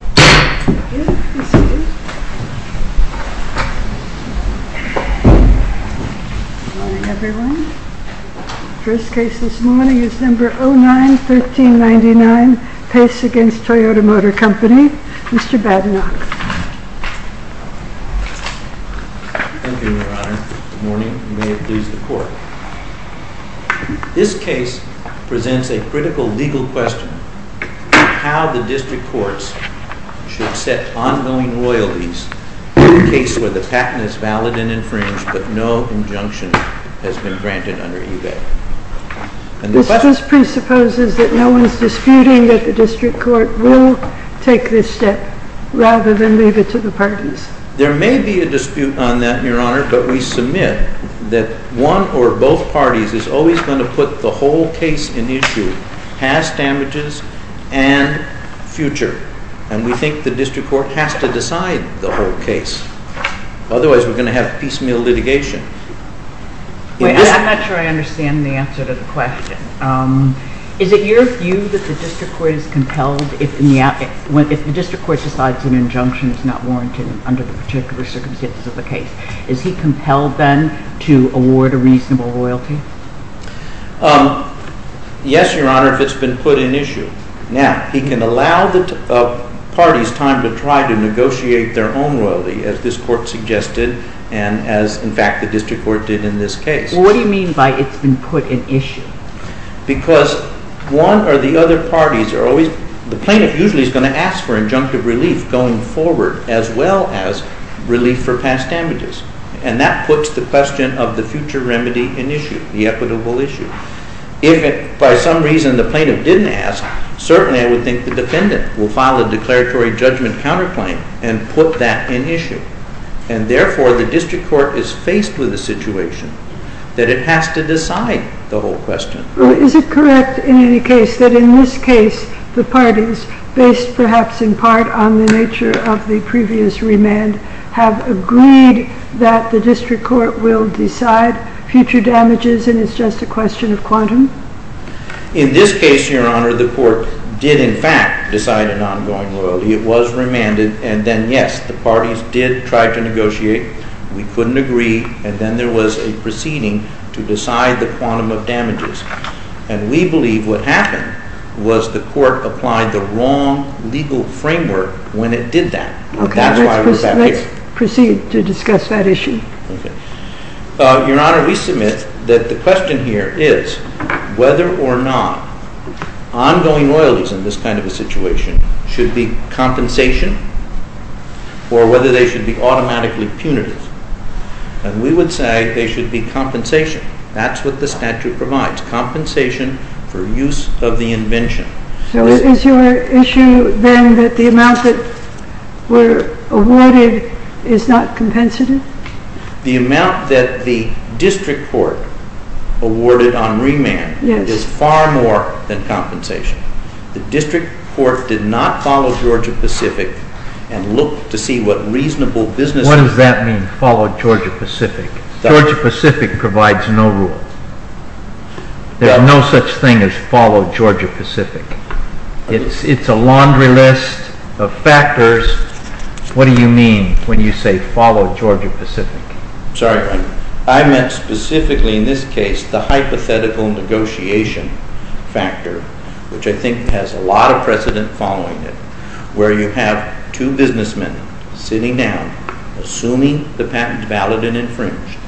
Good morning, everyone. First case this morning is number 09-1399, Paice v. Toyota Motor Company. Mr. Badenoch. Thank you, Your Honor. Good morning. May it please the Court. This case presents a critical legal question of how the district courts should set ongoing loyalties in a case where the patent is valid and infringed but no injunction has been granted under eBay. This presupposes that no one is disputing that the district court will take this step rather than leave it to the parties. There may be a dispute on that, Your Honor, but we submit that one or both parties is always going to put the whole case in issue, past damages and future. And we think the district court has to decide the whole case. Otherwise, we're going to have piecemeal litigation. I'm not sure I understand the answer to the question. Is it your view that the district court is compelled, if the district court decides an injunction is not warranted under the particular circumstances of the case, is he compelled then to award a reasonable loyalty? Yes, Your Honor, if it's been put in issue. Now, he can allow the parties time to try to negotiate their own loyalty as this court suggested and as, in fact, the district court did in this case. What do you mean by it's been put in issue? Because one or the other parties are always, the plaintiff usually is going to ask for injunctive relief going forward as well as relief for past damages. And that puts the question of the future remedy in issue, the equitable issue. If by some reason the plaintiff didn't ask, certainly I would think the defendant will file a declaratory judgment counterclaim and put that in issue. And therefore, the district court is faced with a situation that it has to decide the whole question. Is it correct in any case that in this case, the parties, based perhaps in part on the nature of the previous remand, have agreed that the district court will decide future damages and it's just a question of quantum? In this case, Your Honor, the court did, in fact, decide an ongoing loyalty. It was remanded and then, yes, the parties did try to negotiate. We couldn't agree and then there was a proceeding to decide the quantum of damages. And we believe what happened was the court applied the wrong legal framework when it did that. Okay, let's proceed to discuss that issue. Your Honor, we submit that the question here is whether or not ongoing loyalties in this kind of a situation should be compensation or whether they should be automatically punitive. And we would say they should be compensation. That's what the statute provides, compensation for use of the invention. So is your issue then that the amount that were awarded is not compensative? The amount that the district court awarded on remand is far more than compensation. The district court did not follow Georgia Pacific and look to see what reasonable businesses... What does that mean, follow Georgia Pacific? Georgia Pacific provides no rule. There are no such thing as follow Georgia Pacific. It's a laundry list of factors. What do you mean when you say follow Georgia Pacific? Sorry, I meant specifically in this case the hypothetical negotiation factor, which I think has a lot of precedent following it, where you have two businessmen sitting down, assuming the patent's valid and infringed,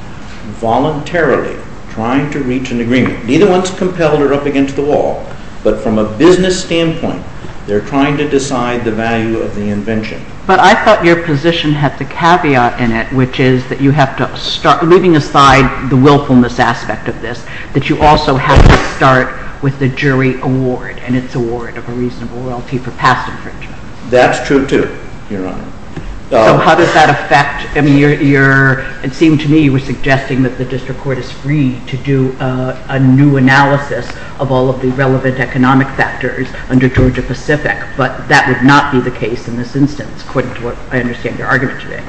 voluntarily trying to reach an agreement. Neither one's compelled or up against the wall, but from a business standpoint, they're trying to decide the value of the invention. But I thought your position had the caveat in it, which is that you have to start, leaving aside the willfulness aspect of this, that you also have to start with the jury award and its award of a reasonable royalty for past infringement. That's true, too, Your Honor. So how does that affect... It seemed to me you were suggesting that the district court is free to do a new analysis of all of the relevant economic factors under Georgia Pacific, but that would not be the case in this instance, according to what I understand your argument today.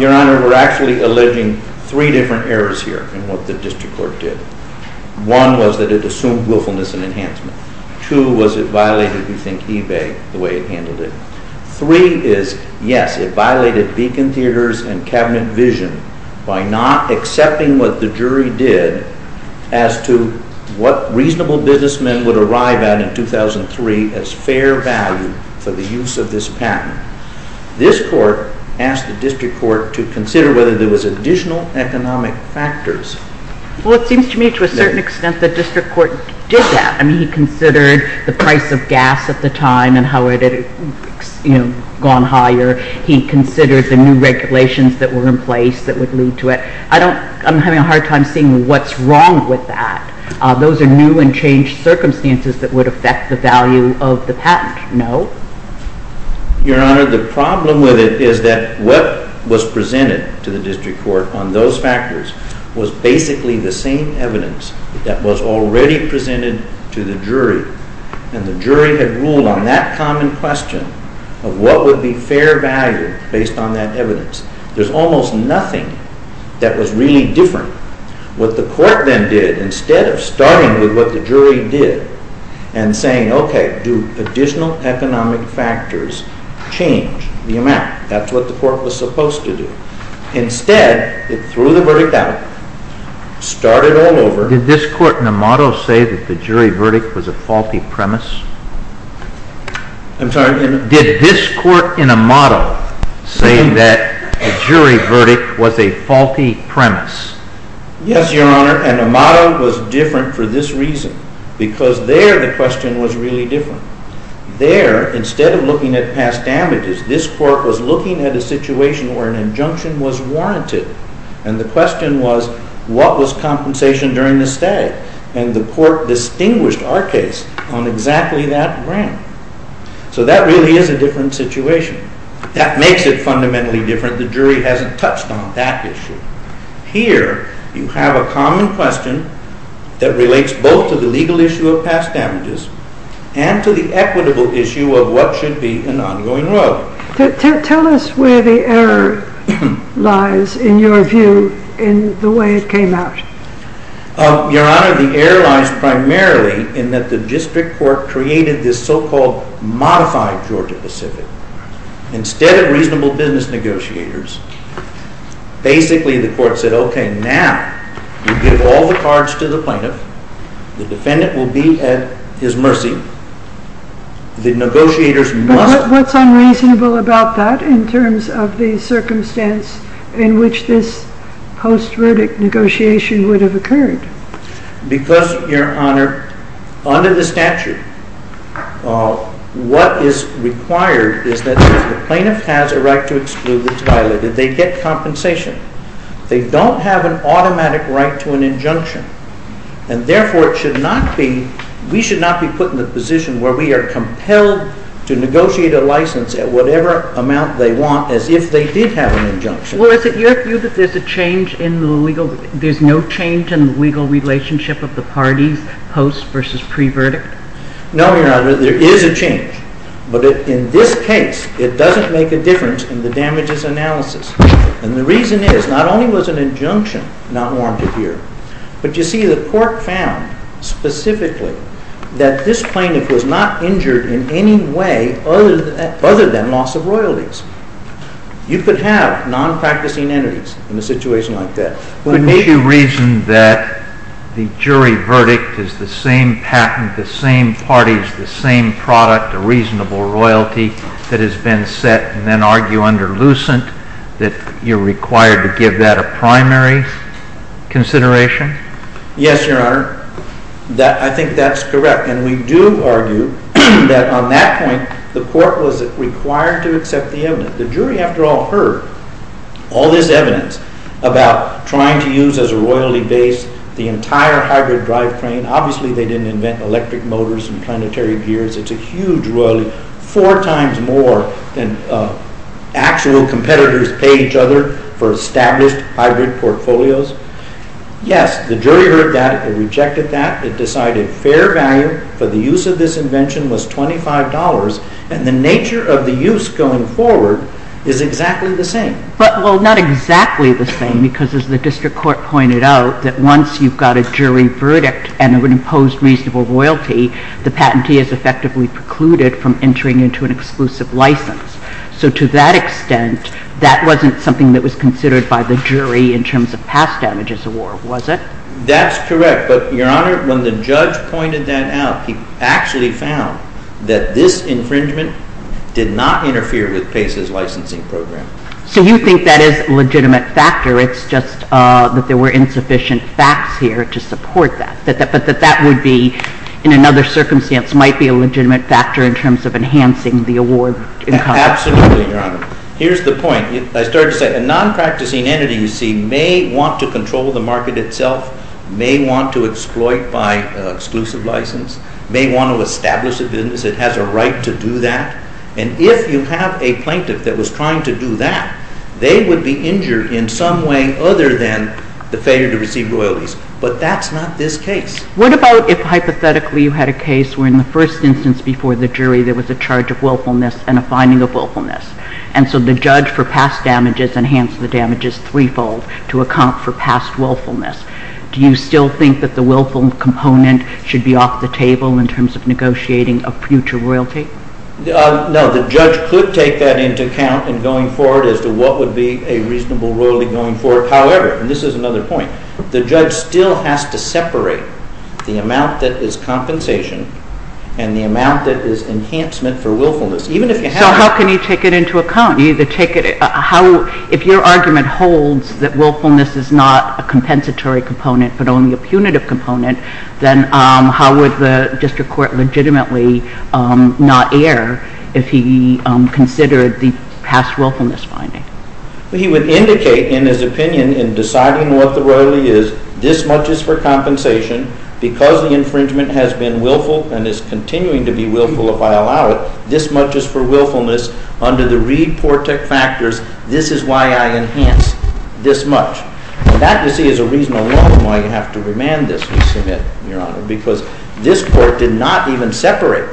Your Honor, we're actually alleging three different errors here in what the district court did. One was that it assumed willfulness and enhancement. Two was it violated, we think, eBay the way it handled it. Three is, yes, it violated beacon theaters and cabinet vision by not accepting what the jury did as to what reasonable businessmen would arrive at in 2003 as fair value for the use of this patent. This court asked the district court to consider whether there was additional economic factors. Well, it seems to me to a certain extent the district court did that. I mean, he considered the price of gas at the time and how it had gone higher. He considered the new regulations that were in place that would lead to it. I'm having a hard time seeing what's wrong with that. Those are new and changed circumstances that would affect the value of the patent. No. Your Honor, the problem with it is that what was presented to the district court on those factors was basically the same evidence that was already presented to the jury. And the jury had ruled on that common question of what would be fair value based on that evidence. There's almost nothing that was really different. What the court then did, instead of starting with what the jury did and saying, okay, do additional economic factors change the amount? That's what the court was supposed to do. Instead, it threw the verdict out, started all over. Did this court in a model say that the jury verdict was a faulty premise? I'm sorry? Did this court in a model say that the jury verdict was a faulty premise? Yes, Your Honor. And the model was different for this reason, because there the question was really different. There, instead of looking at past damages, this court was looking at a situation where an injunction was warranted. And the question was, what was compensation during the stay? And the court distinguished our case on exactly that ground. So that really is a different situation. That makes it fundamentally different. The jury hasn't touched on that issue. Here, you have a common question that relates both to the legal issue of past damages and to the equitable issue of what should be an ongoing royalty. Tell us where the error lies, in your view, in the way it came out. Your Honor, the error lies primarily in that the district court created this so-called modified Georgia Pacific. Instead of reasonable business negotiators, basically the court said, OK, now we give all the cards to the plaintiff. The defendant will be at his mercy. The negotiators must... What's unreasonable about that in terms of the circumstance in which this post-verdict negotiation would have occurred? Because, Your Honor, under the statute, what is required is that if the plaintiff has a right to exclude, it's violated. They get compensation. They don't have an automatic right to an injunction. Therefore, we should not be put in the position where we are compelled to negotiate a license at whatever amount they want as if they did have an injunction. Well, is it your view that there's no change in the legal relationship of the parties post versus pre-verdict? No, Your Honor, there is a change. But in this case, it doesn't make a difference in the damages analysis. And the reason is not only was an injunction not warranted here, but you see the court found specifically that this plaintiff was not injured in any way other than loss of royalties. You could have non-practicing entities in a situation like that. Couldn't you reason that the jury verdict is the same patent, the same parties, the same product, a reasonable royalty that has been set and then argue under Lucent that you're required to give that a primary consideration? Yes, Your Honor. I think that's correct. And we do argue that on that point, the court was required to accept the evidence. The jury, after all, heard all this evidence about trying to use as a royalty base the entire hybrid drive train. Obviously, they didn't invent electric motors and planetary gears. It's a huge royalty, four times more than actual competitors pay each other for established hybrid portfolios. Yes, the jury heard that and rejected that. In fact, it decided fair value for the use of this invention was $25, and the nature of the use going forward is exactly the same. But, well, not exactly the same, because as the district court pointed out, that once you've got a jury verdict and an imposed reasonable royalty, the patentee is effectively precluded from entering into an exclusive license. So to that extent, that wasn't something that was considered by the jury in terms of past damages award, was it? That's correct. But, Your Honor, when the judge pointed that out, he actually found that this infringement did not interfere with PACE's licensing program. So you think that is a legitimate factor. It's just that there were insufficient facts here to support that, but that that would be, in another circumstance, might be a legitimate factor in terms of enhancing the award. Absolutely, Your Honor. Here's the point. I started to say a non-practicing entity, you see, may want to control the market itself, may want to exploit by exclusive license, may want to establish a business that has a right to do that. And if you have a plaintiff that was trying to do that, they would be injured in some way other than the failure to receive royalties. But that's not this case. What about if, hypothetically, you had a case where in the first instance before the jury there was a charge of willfulness and a finding of willfulness? And so the judge for past damages enhanced the damages threefold to account for past willfulness. Do you still think that the willful component should be off the table in terms of negotiating a future royalty? No, the judge could take that into account in going forward as to what would be a reasonable royalty going forward. However, and this is another point, the judge still has to separate the amount that is compensation and the amount that is enhancement for willfulness. So how can he take it into account? If your argument holds that willfulness is not a compensatory component but only a punitive component, then how would the district court legitimately not err if he considered the past willfulness finding? Well, he would indicate in his opinion in deciding what the royalty is, this much is for compensation. Because the infringement has been willful and is continuing to be willful if I allow it, this much is for willfulness. Under the Reed-Portek factors, this is why I enhance this much. And that, you see, is a reason alone why you have to remand this, Your Honor, because this court did not even separate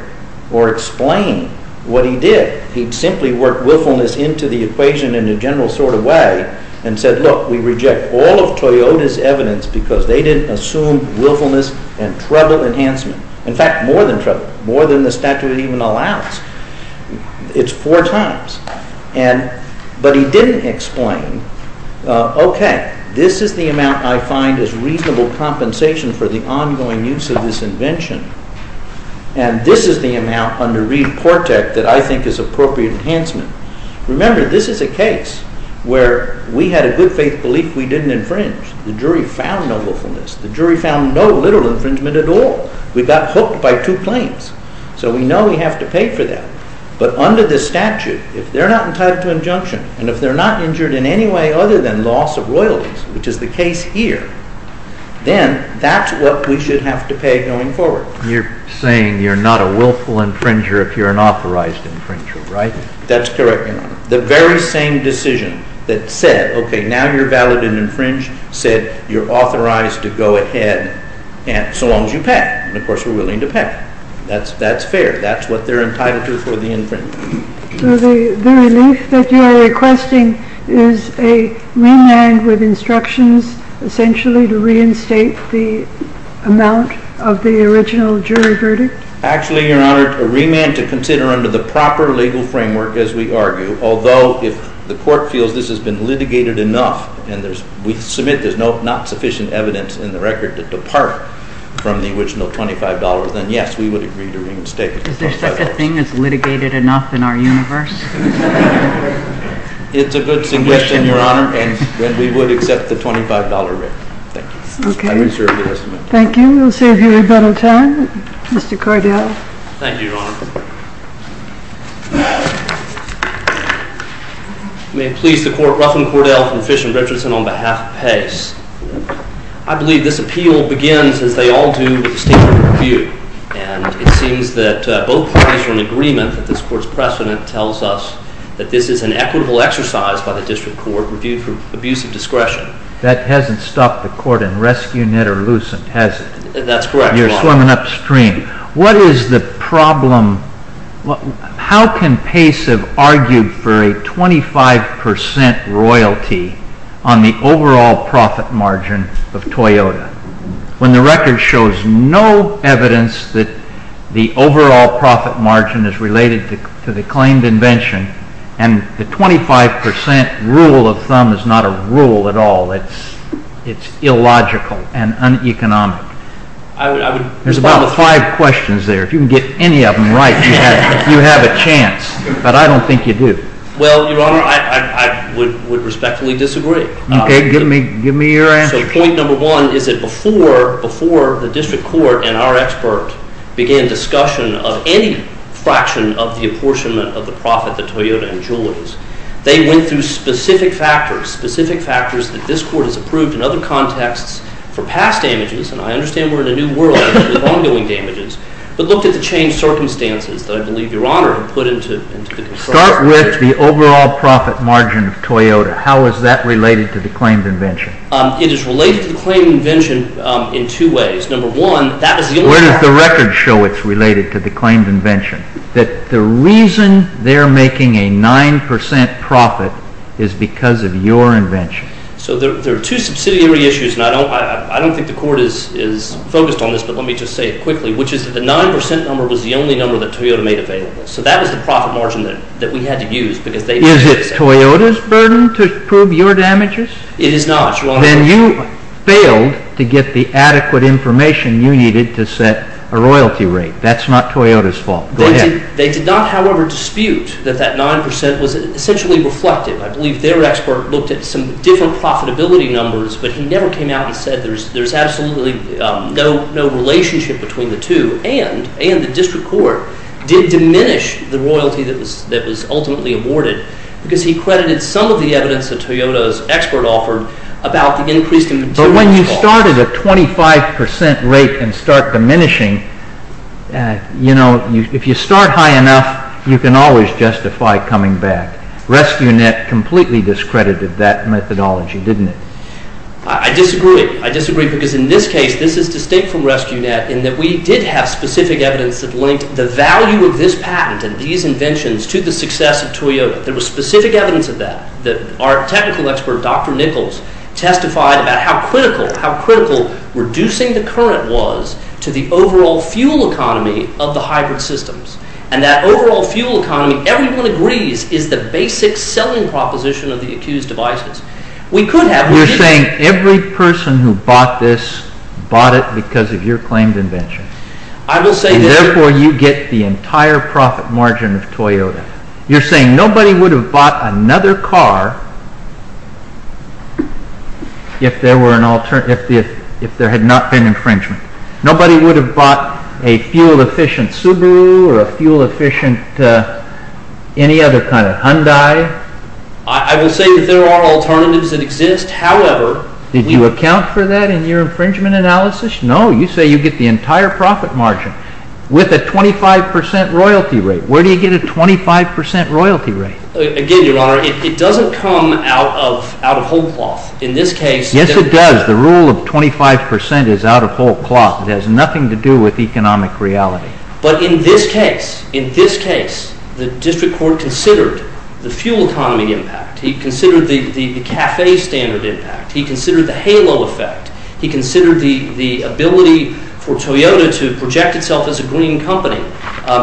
or explain what he did. He simply worked willfulness into the equation in a general sort of way and said, look, we reject all of Toyota's evidence because they didn't assume willfulness and treble enhancement. In fact, more than treble, more than the statute even allows. It's four times. But he didn't explain, okay, this is the amount I find is reasonable compensation for the ongoing use of this invention. And this is the amount under Reed-Portek that I think is appropriate enhancement. Remember, this is a case where we had a good faith belief we didn't infringe. The jury found no willfulness. The jury found no literal infringement at all. We got hooked by two claims. So we know we have to pay for that. But under the statute, if they're not entitled to injunction and if they're not injured in any way other than loss of royalties, which is the case here, then that's what we should have to pay going forward. You're saying you're not a willful infringer if you're an authorized infringer, right? That's correct, Your Honor. The very same decision that said, okay, now you're valid and infringed, said you're authorized to go ahead so long as you pay. And of course we're willing to pay. That's fair. That's what they're entitled to for the infringement. So the relief that you're requesting is a remand with instructions essentially to reinstate the amount of the original jury verdict? Actually, Your Honor, a remand to consider under the proper legal framework, as we argue. Although if the court feels this has been litigated enough and we submit there's not sufficient evidence in the record to depart from the original $25, then yes, we would agree to reinstate it. Is there such a thing as litigated enough in our universe? It's a good suggestion, Your Honor, and we would accept the $25 remand. Thank you. Okay. Thank you. We'll save you a little time. Mr. Cordell. Thank you, Your Honor. May it please the Court, Ruffin, Cordell, Fish, and Richardson on behalf of Pace. I believe this appeal begins, as they all do, with a statement of review. And it seems that both parties are in agreement that this Court's precedent tells us that this is an equitable exercise by the District Court reviewed for abuse of discretion. That hasn't stopped the Court in rescuing it or loosening it, has it? That's correct, Your Honor. You're swimming upstream. What is the problem? How can Pace have argued for a 25% royalty on the overall profit margin of Toyota when the record shows no evidence that the overall profit margin is related to the claimed invention and the 25% rule of thumb is not a rule at all? It's illogical and uneconomic. There's about five questions there. If you can get any of them right, you have a chance. But I don't think you do. Well, Your Honor, I would respectfully disagree. Okay. Give me your answer. So point number one is that before the District Court and our expert began discussion of any fraction of the apportionment of the profit that Toyota enjoys, they went through specific factors, specific factors that this Court has approved in other contexts for past damages, and I understand we're in a new world of ongoing damages, but looked at the changed circumstances that I believe Your Honor put into the confrontation. Start with the overall profit margin of Toyota. How is that related to the claimed invention? It is related to the claimed invention in two ways. Number one, that is the only fact. Where does the record show it's related to the claimed invention? That the reason they're making a 9% profit is because of your invention. So there are two subsidiary issues, and I don't think the Court is focused on this, but let me just say it quickly, which is that the 9% number was the only number that Toyota made available. So that was the profit margin that we had to use because they made it. Is it Toyota's burden to prove your damages? It is not, Your Honor. Then you failed to get the adequate information you needed to set a royalty rate. That's not Toyota's fault. Go ahead. They did not, however, dispute that that 9% was essentially reflective. I believe their expert looked at some different profitability numbers, but he never came out and said there's absolutely no relationship between the two, and the District Court did diminish the royalty that was ultimately awarded because he credited some of the evidence that Toyota's expert offered about the increased inventory. But when you started a 25% rate and start diminishing, you know, if you start high enough, you can always justify coming back. Rescue.Net completely discredited that methodology, didn't it? I disagree. I disagree because in this case, this is distinct from Rescue.Net in that we did have specific evidence that linked the value of this patent and these inventions to the success of Toyota. There was specific evidence of that. Our technical expert, Dr. Nichols, testified about how critical reducing the current was to the overall fuel economy of the hybrid systems, and that overall fuel economy, everyone agrees, is the basic selling proposition of the accused devices. You're saying every person who bought this bought it because of your claimed invention. I will say this. Therefore, you get the entire profit margin of Toyota. You're saying nobody would have bought another car if there had not been infringement. Nobody would have bought a fuel-efficient Subaru or a fuel-efficient any other kind of Hyundai. I will say that there are alternatives that exist. Did you account for that in your infringement analysis? No. You say you get the entire profit margin with a 25% royalty rate. Where do you get a 25% royalty rate? Again, Your Honor, it doesn't come out of whole cloth. In this case— Yes, it does. The rule of 25% is out of whole cloth. It has nothing to do with economic reality. But in this case, the district court considered the fuel economy impact. He considered the CAFE standard impact. He considered the halo effect. He considered the ability for Toyota to project itself as a green company.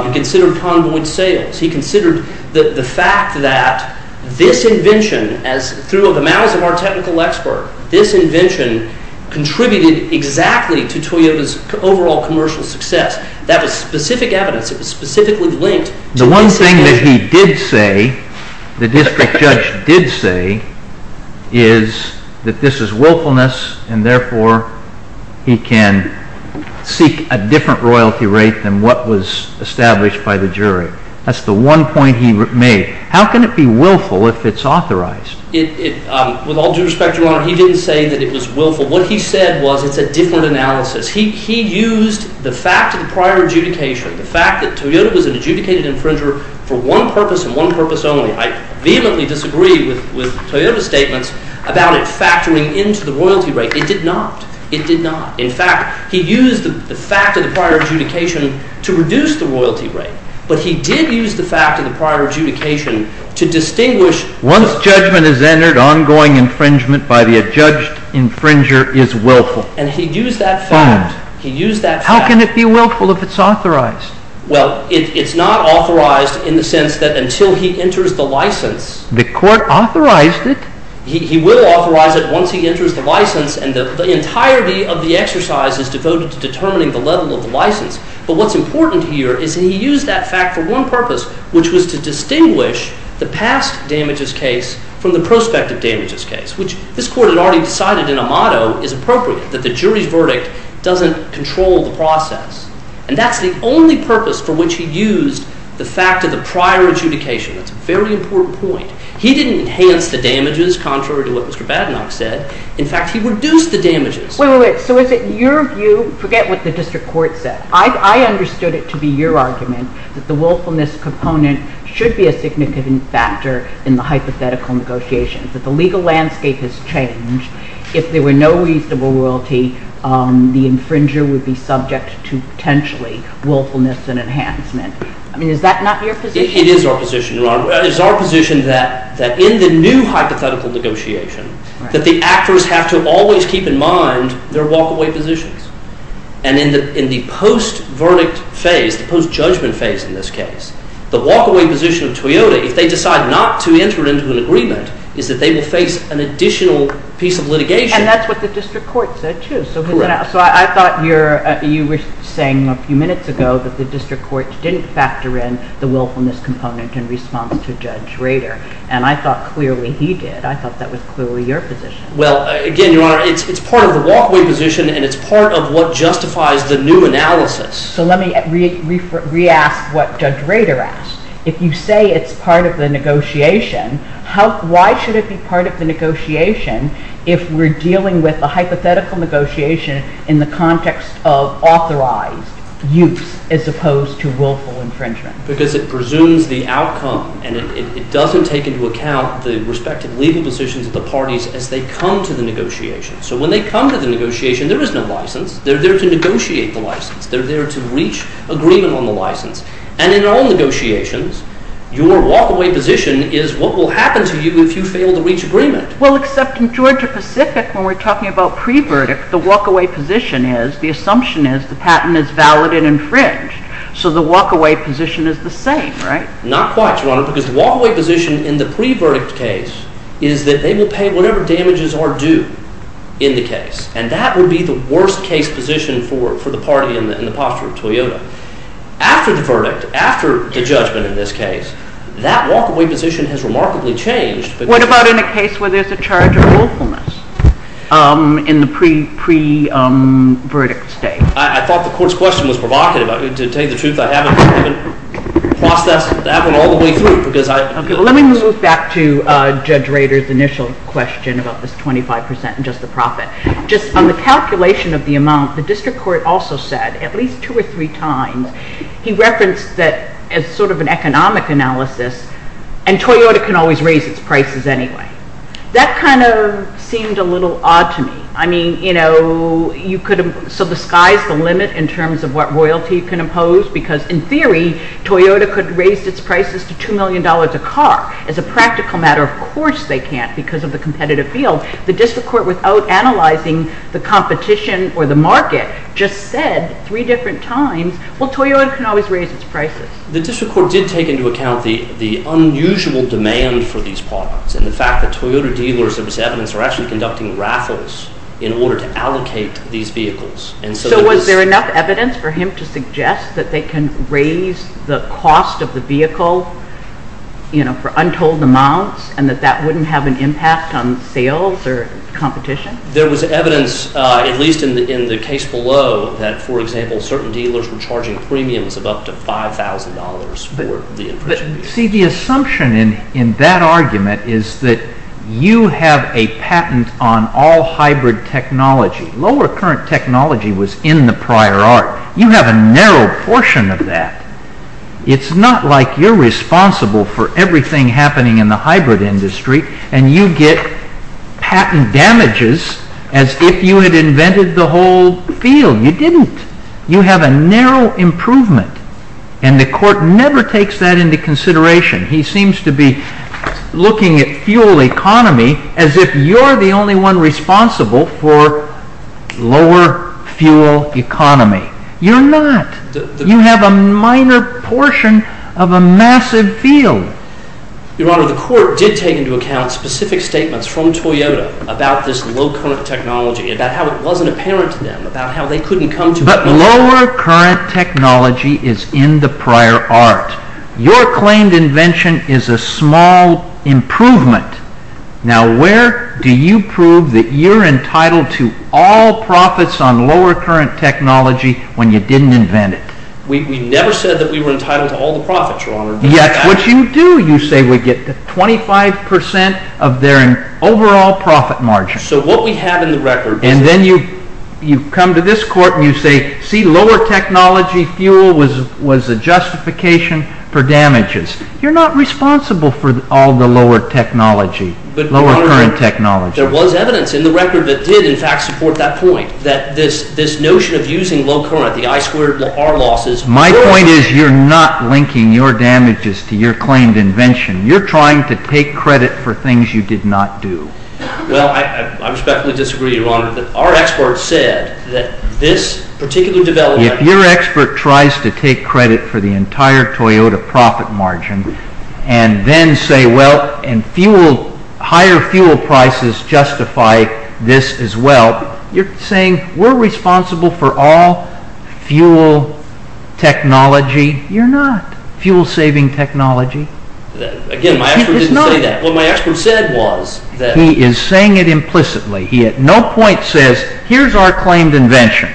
He considered convoy sales. He considered the fact that this invention, through the mouths of our technical expert, this invention contributed exactly to Toyota's overall commercial success. That was specific evidence. It was specifically linked to— The one thing that he did say, the district judge did say, is that this is willfulness, and therefore he can seek a different royalty rate than what was established by the jury. That's the one point he made. How can it be willful if it's authorized? With all due respect, Your Honor, he didn't say that it was willful. What he said was it's a different analysis. He used the fact of the prior adjudication, the fact that Toyota was an adjudicated infringer for one purpose and one purpose only. I vehemently disagree with Toyota's statements about it factoring into the royalty rate. It did not. It did not. In fact, he used the fact of the prior adjudication to reduce the royalty rate, but he did use the fact of the prior adjudication to distinguish— Once judgment is entered, ongoing infringement by the adjudged infringer is willful. And he used that fact. He used that fact. How can it be willful if it's authorized? Well, it's not authorized in the sense that until he enters the license— The court authorized it. He will authorize it once he enters the license, and the entirety of the exercise is devoted to determining the level of the license. But what's important here is he used that fact for one purpose, which was to distinguish the past damages case from the prospective damages case, which this Court had already decided in a motto is appropriate, that the jury's verdict doesn't control the process. And that's the only purpose for which he used the fact of the prior adjudication. That's a very important point. He didn't enhance the damages contrary to what Mr. Badenow said. In fact, he reduced the damages. Wait, wait, wait. So is it your view—forget what the district court said. I understood it to be your argument that the willfulness component should be a significant factor in the hypothetical negotiations, that the legal landscape has changed. If there were no reasonable royalty, the infringer would be subject to potentially willfulness and enhancement. I mean, is that not your position? It is our position. It is our position that in the new hypothetical negotiation, that the actors have to always keep in mind their walk-away positions. And in the post-verdict phase, the post-judgment phase in this case, the walk-away position of Toyota, if they decide not to enter into an agreement, is that they will face an additional piece of litigation. And that's what the district court said, too. Correct. So I thought you were saying a few minutes ago that the district court didn't factor in the willfulness component in response to Judge Rader. And I thought clearly he did. I thought that was clearly your position. Well, again, Your Honor, it's part of the walk-away position, and it's part of what justifies the new analysis. So let me re-ask what Judge Rader asked. If you say it's part of the negotiation, why should it be part of the negotiation if we're dealing with a hypothetical negotiation in the context of authorized use as opposed to willful infringement? Because it presumes the outcome, and it doesn't take into account the respective legal decisions of the parties as they come to the negotiation. So when they come to the negotiation, there is no license. They're there to negotiate the license. They're there to reach agreement on the license. And in all negotiations, your walk-away position is what will happen to you if you fail to reach agreement. Well, except in Georgia-Pacific when we're talking about pre-verdict, the walk-away position is, the assumption is, the patent is valid and infringed. So the walk-away position is the same, right? Not quite, Your Honor, because the walk-away position in the pre-verdict case is that they will pay whatever damages are due in the case. And that would be the worst-case position for the party in the posture of Toyota. After the verdict, after the judgment in this case, that walk-away position has remarkably changed. What about in a case where there's a charge of willfulness in the pre-verdict state? I thought the Court's question was provocative. To tell you the truth, I haven't processed that one all the way through because I— Okay, well, let me move back to Judge Rader's initial question about this 25 percent and just the profit. Just on the calculation of the amount, the District Court also said, at least two or three times, he referenced that as sort of an economic analysis, and Toyota can always raise its prices anyway. That kind of seemed a little odd to me. I mean, you know, you could— so the sky's the limit in terms of what royalty can impose because, in theory, Toyota could raise its prices to $2 million a car. As a practical matter, of course they can't because of the competitive field. So the District Court, without analyzing the competition or the market, just said three different times, well, Toyota can always raise its prices. The District Court did take into account the unusual demand for these products and the fact that Toyota dealers of this evidence are actually conducting raffles in order to allocate these vehicles. So was there enough evidence for him to suggest that they can raise the cost of the vehicle for untold amounts and that that wouldn't have an impact on sales or competition? There was evidence, at least in the case below, that, for example, certain dealers were charging premiums of up to $5,000 for the infringement. But, see, the assumption in that argument is that you have a patent on all hybrid technology. Lower current technology was in the prior art. You have a narrow portion of that. It's not like you're responsible for everything happening in the hybrid industry and you get patent damages as if you had invented the whole field. You didn't. You have a narrow improvement, and the Court never takes that into consideration. He seems to be looking at fuel economy as if you're the only one responsible for lower fuel economy. You're not. You have a minor portion of a massive field. Your Honor, the Court did take into account specific statements from Toyota about this low current technology, about how it wasn't apparent to them, about how they couldn't come to... But lower current technology is in the prior art. Your claimed invention is a small improvement. Now, where do you prove that you're entitled to all profits on lower current technology when you didn't invent it? We never said that we were entitled to all the profits, Your Honor. Yet what you do, you say we get 25% of their overall profit margin. So what we have in the record... And then you come to this Court and you say, see, lower technology fuel was a justification for damages. You're not responsible for all the lower current technology. There was evidence in the record that did in fact support that point, that this notion of using low current, the I squared, the R losses... My point is you're not linking your damages to your claimed invention. You're trying to take credit for things you did not do. Well, I respectfully disagree, Your Honor. Our experts said that this particular development... If your expert tries to take credit for the entire Toyota profit margin and then say, well, and fuel, higher fuel prices justify this as well, you're saying we're responsible for all fuel technology. You're not. Fuel-saving technology... Again, my expert didn't say that. What my expert said was that... He is saying it implicitly. He at no point says, here's our claimed invention.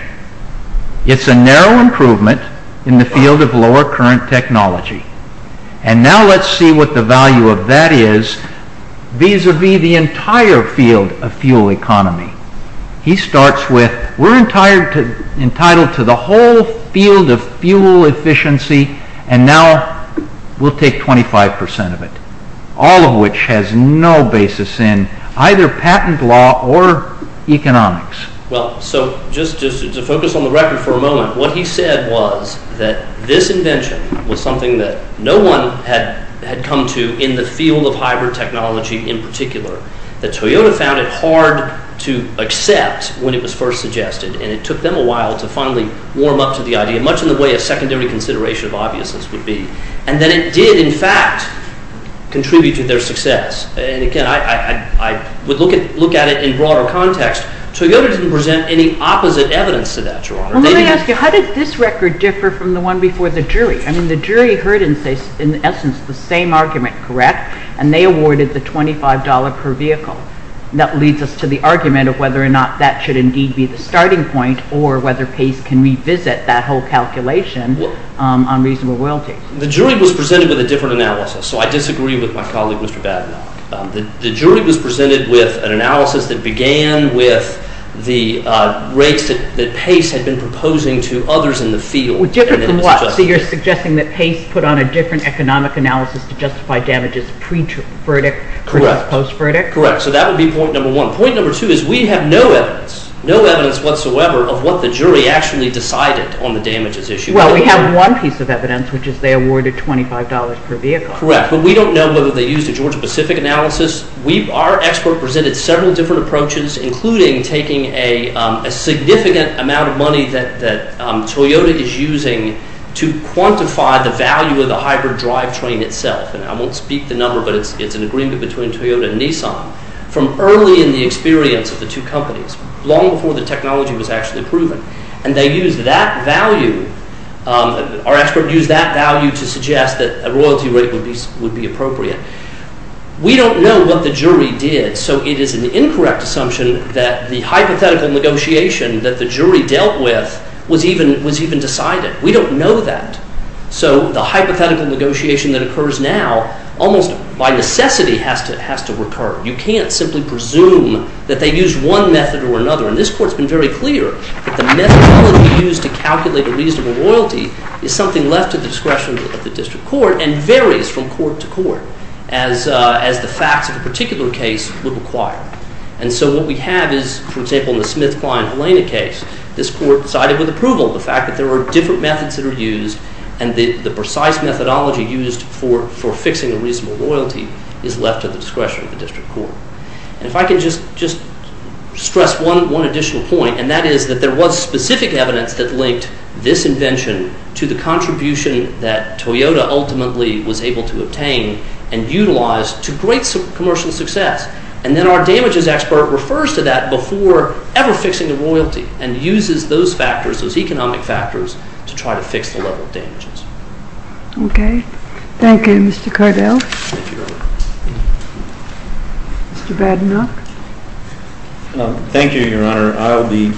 It's a narrow improvement in the field of lower current technology. And now let's see what the value of that is vis-a-vis the entire field of fuel economy. He starts with, we're entitled to the whole field of fuel efficiency and now we'll take 25% of it, all of which has no basis in either patent law or economics. Well, so just to focus on the record for a moment, what he said was that this invention was something that no one had come to in the field of hybrid technology in particular. That Toyota found it hard to accept when it was first suggested and it took them a while to finally warm up to the idea, much in the way a secondary consideration of obviousness would be. And then it did, in fact, contribute to their success. And again, I would look at it in broader context. Toyota didn't present any opposite evidence to that, Your Honor. Well, let me ask you, how did this record differ from the one before the jury? I mean, the jury heard in essence the same argument, correct? And they awarded the $25 per vehicle. That leads us to the argument of whether or not that should indeed be the starting point or whether Pace can revisit that whole calculation on reasonable royalties. The jury was presented with a different analysis, so I disagree with my colleague, Mr. Badenow. The jury was presented with an analysis that began with the rates that Pace had been proposing to others in the field. Different from what? So you're suggesting that Pace put on a different economic analysis to justify damages pre-verdict versus post-verdict? Correct. So that would be point number one. Point number two is we have no evidence, no evidence whatsoever, of what the jury actually decided on the damages issue. Well, we have one piece of evidence, which is they awarded $25 per vehicle. Correct. But we don't know whether they used a Georgia-Pacific analysis. Our expert presented several different approaches, including taking a significant amount of money that Toyota is using to quantify the value of the hybrid drivetrain itself. And I won't speak the number, but it's an agreement between Toyota and Nissan, from early in the experience of the two companies, long before the technology was actually proven. And they used that value, our expert used that value, to suggest that a royalty rate would be appropriate. We don't know what the jury did, so it is an incorrect assumption that the hypothetical negotiation that the jury dealt with was even decided. We don't know that. So the hypothetical negotiation that occurs now, almost by necessity, has to recur. You can't simply presume that they used one method or another. And this Court's been very clear that the methodology used to calculate a reasonable royalty is something left to the discretion of the district court and varies from court to court, as the facts of a particular case would require. And so what we have is, for example, in the Smith-Klein-Helena case, this Court decided with approval the fact that there are different methods that are used and the precise methodology used for fixing a reasonable royalty is left to the discretion of the district court. And if I can just stress one additional point, and that is that there was specific evidence that linked this invention to the contribution that Toyota ultimately was able to obtain and utilize to great commercial success. And then our damages expert refers to that before ever fixing the royalty and uses those factors, those economic factors, to try to fix the level of damages. Okay. Thank you, Mr. Cardell. Mr. Badenoch. Thank you, Your Honor. I'll be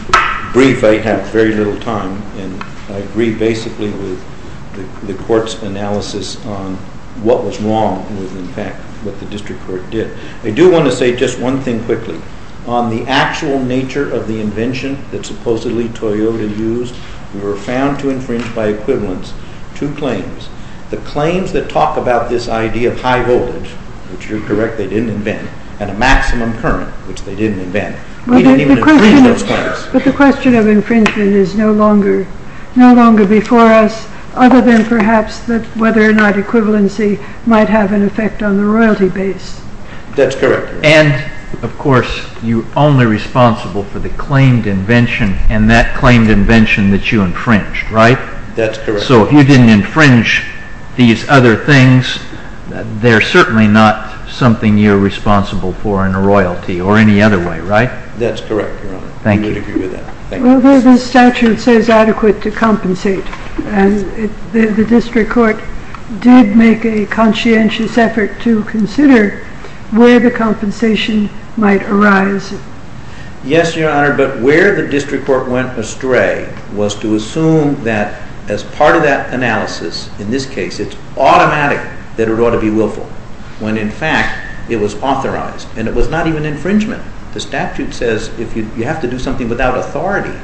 brief. I have very little time. And I agree basically with the Court's analysis on what was wrong with, in fact, what the district court did. I do want to say just one thing quickly. On the actual nature of the invention that supposedly Toyota used, we were found to infringe by equivalence two claims. The claims that talk about this idea of high voltage, which you're correct, they didn't invent, and a maximum current, which they didn't invent. They didn't even infringe those claims. But the question of infringement is no longer before us, other than perhaps whether or not equivalency might have an effect on the royalty base. That's correct. And, of course, you're only responsible for the claimed invention and that claimed invention that you infringed, right? That's correct. So if you didn't infringe these other things, they're certainly not something you're responsible for in a royalty or any other way, right? That's correct, Your Honor. Thank you. We would agree with that. Although the statute says adequate to compensate, the district court did make a conscientious effort to consider where the compensation might arise. Yes, Your Honor, but where the district court went astray was to assume that as part of that analysis, in this case it's automatic that it ought to be willful, when, in fact, it was authorized. And it was not even infringement. The statute says you have to do something without authority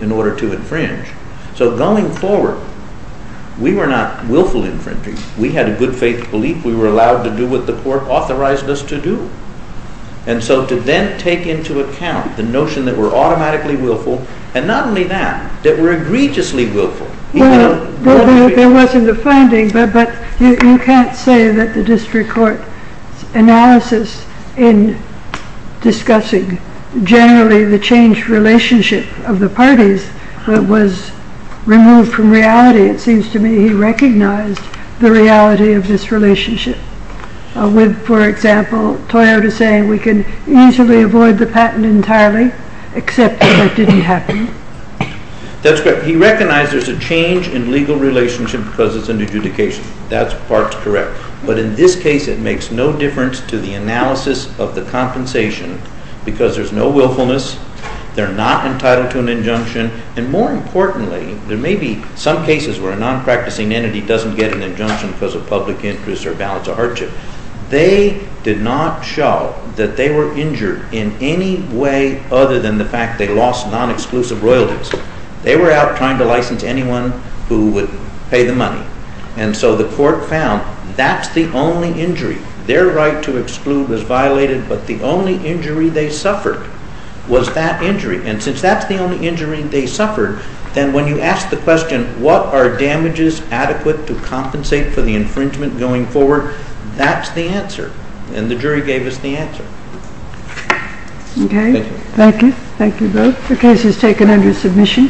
in order to infringe. So going forward, we were not willful infringing. We had a good faith belief we were allowed to do what the court authorized us to do. And so to then take into account the notion that we're automatically willful, and not only that, that we're egregiously willful. Well, there wasn't a finding, but you can't say that the district court analysis in discussing generally the changed relationship of the parties was removed from reality. It seems to me he recognized the reality of this relationship, with, for example, Toyota saying we can easily avoid the patent entirely, except if it didn't happen. That's correct. He recognized there's a change in legal relationship because it's an adjudication. That part's correct. But in this case, it makes no difference to the analysis of the compensation because there's no willfulness, they're not entitled to an injunction, and more importantly, there may be some cases where a non-practicing entity doesn't get an injunction because of public interest or balance of hardship. They did not show that they were injured in any way other than the fact they lost non-exclusive royalties. They were out trying to license anyone who would pay the money. And so the court found that's the only injury. Their right to exclude was violated, but the only injury they suffered was that injury. And since that's the only injury they suffered, then when you ask the question, what are damages adequate to compensate for the infringement going forward, that's the answer. And the jury gave us the answer. Okay. Thank you. Thank you both. The case is taken under submission.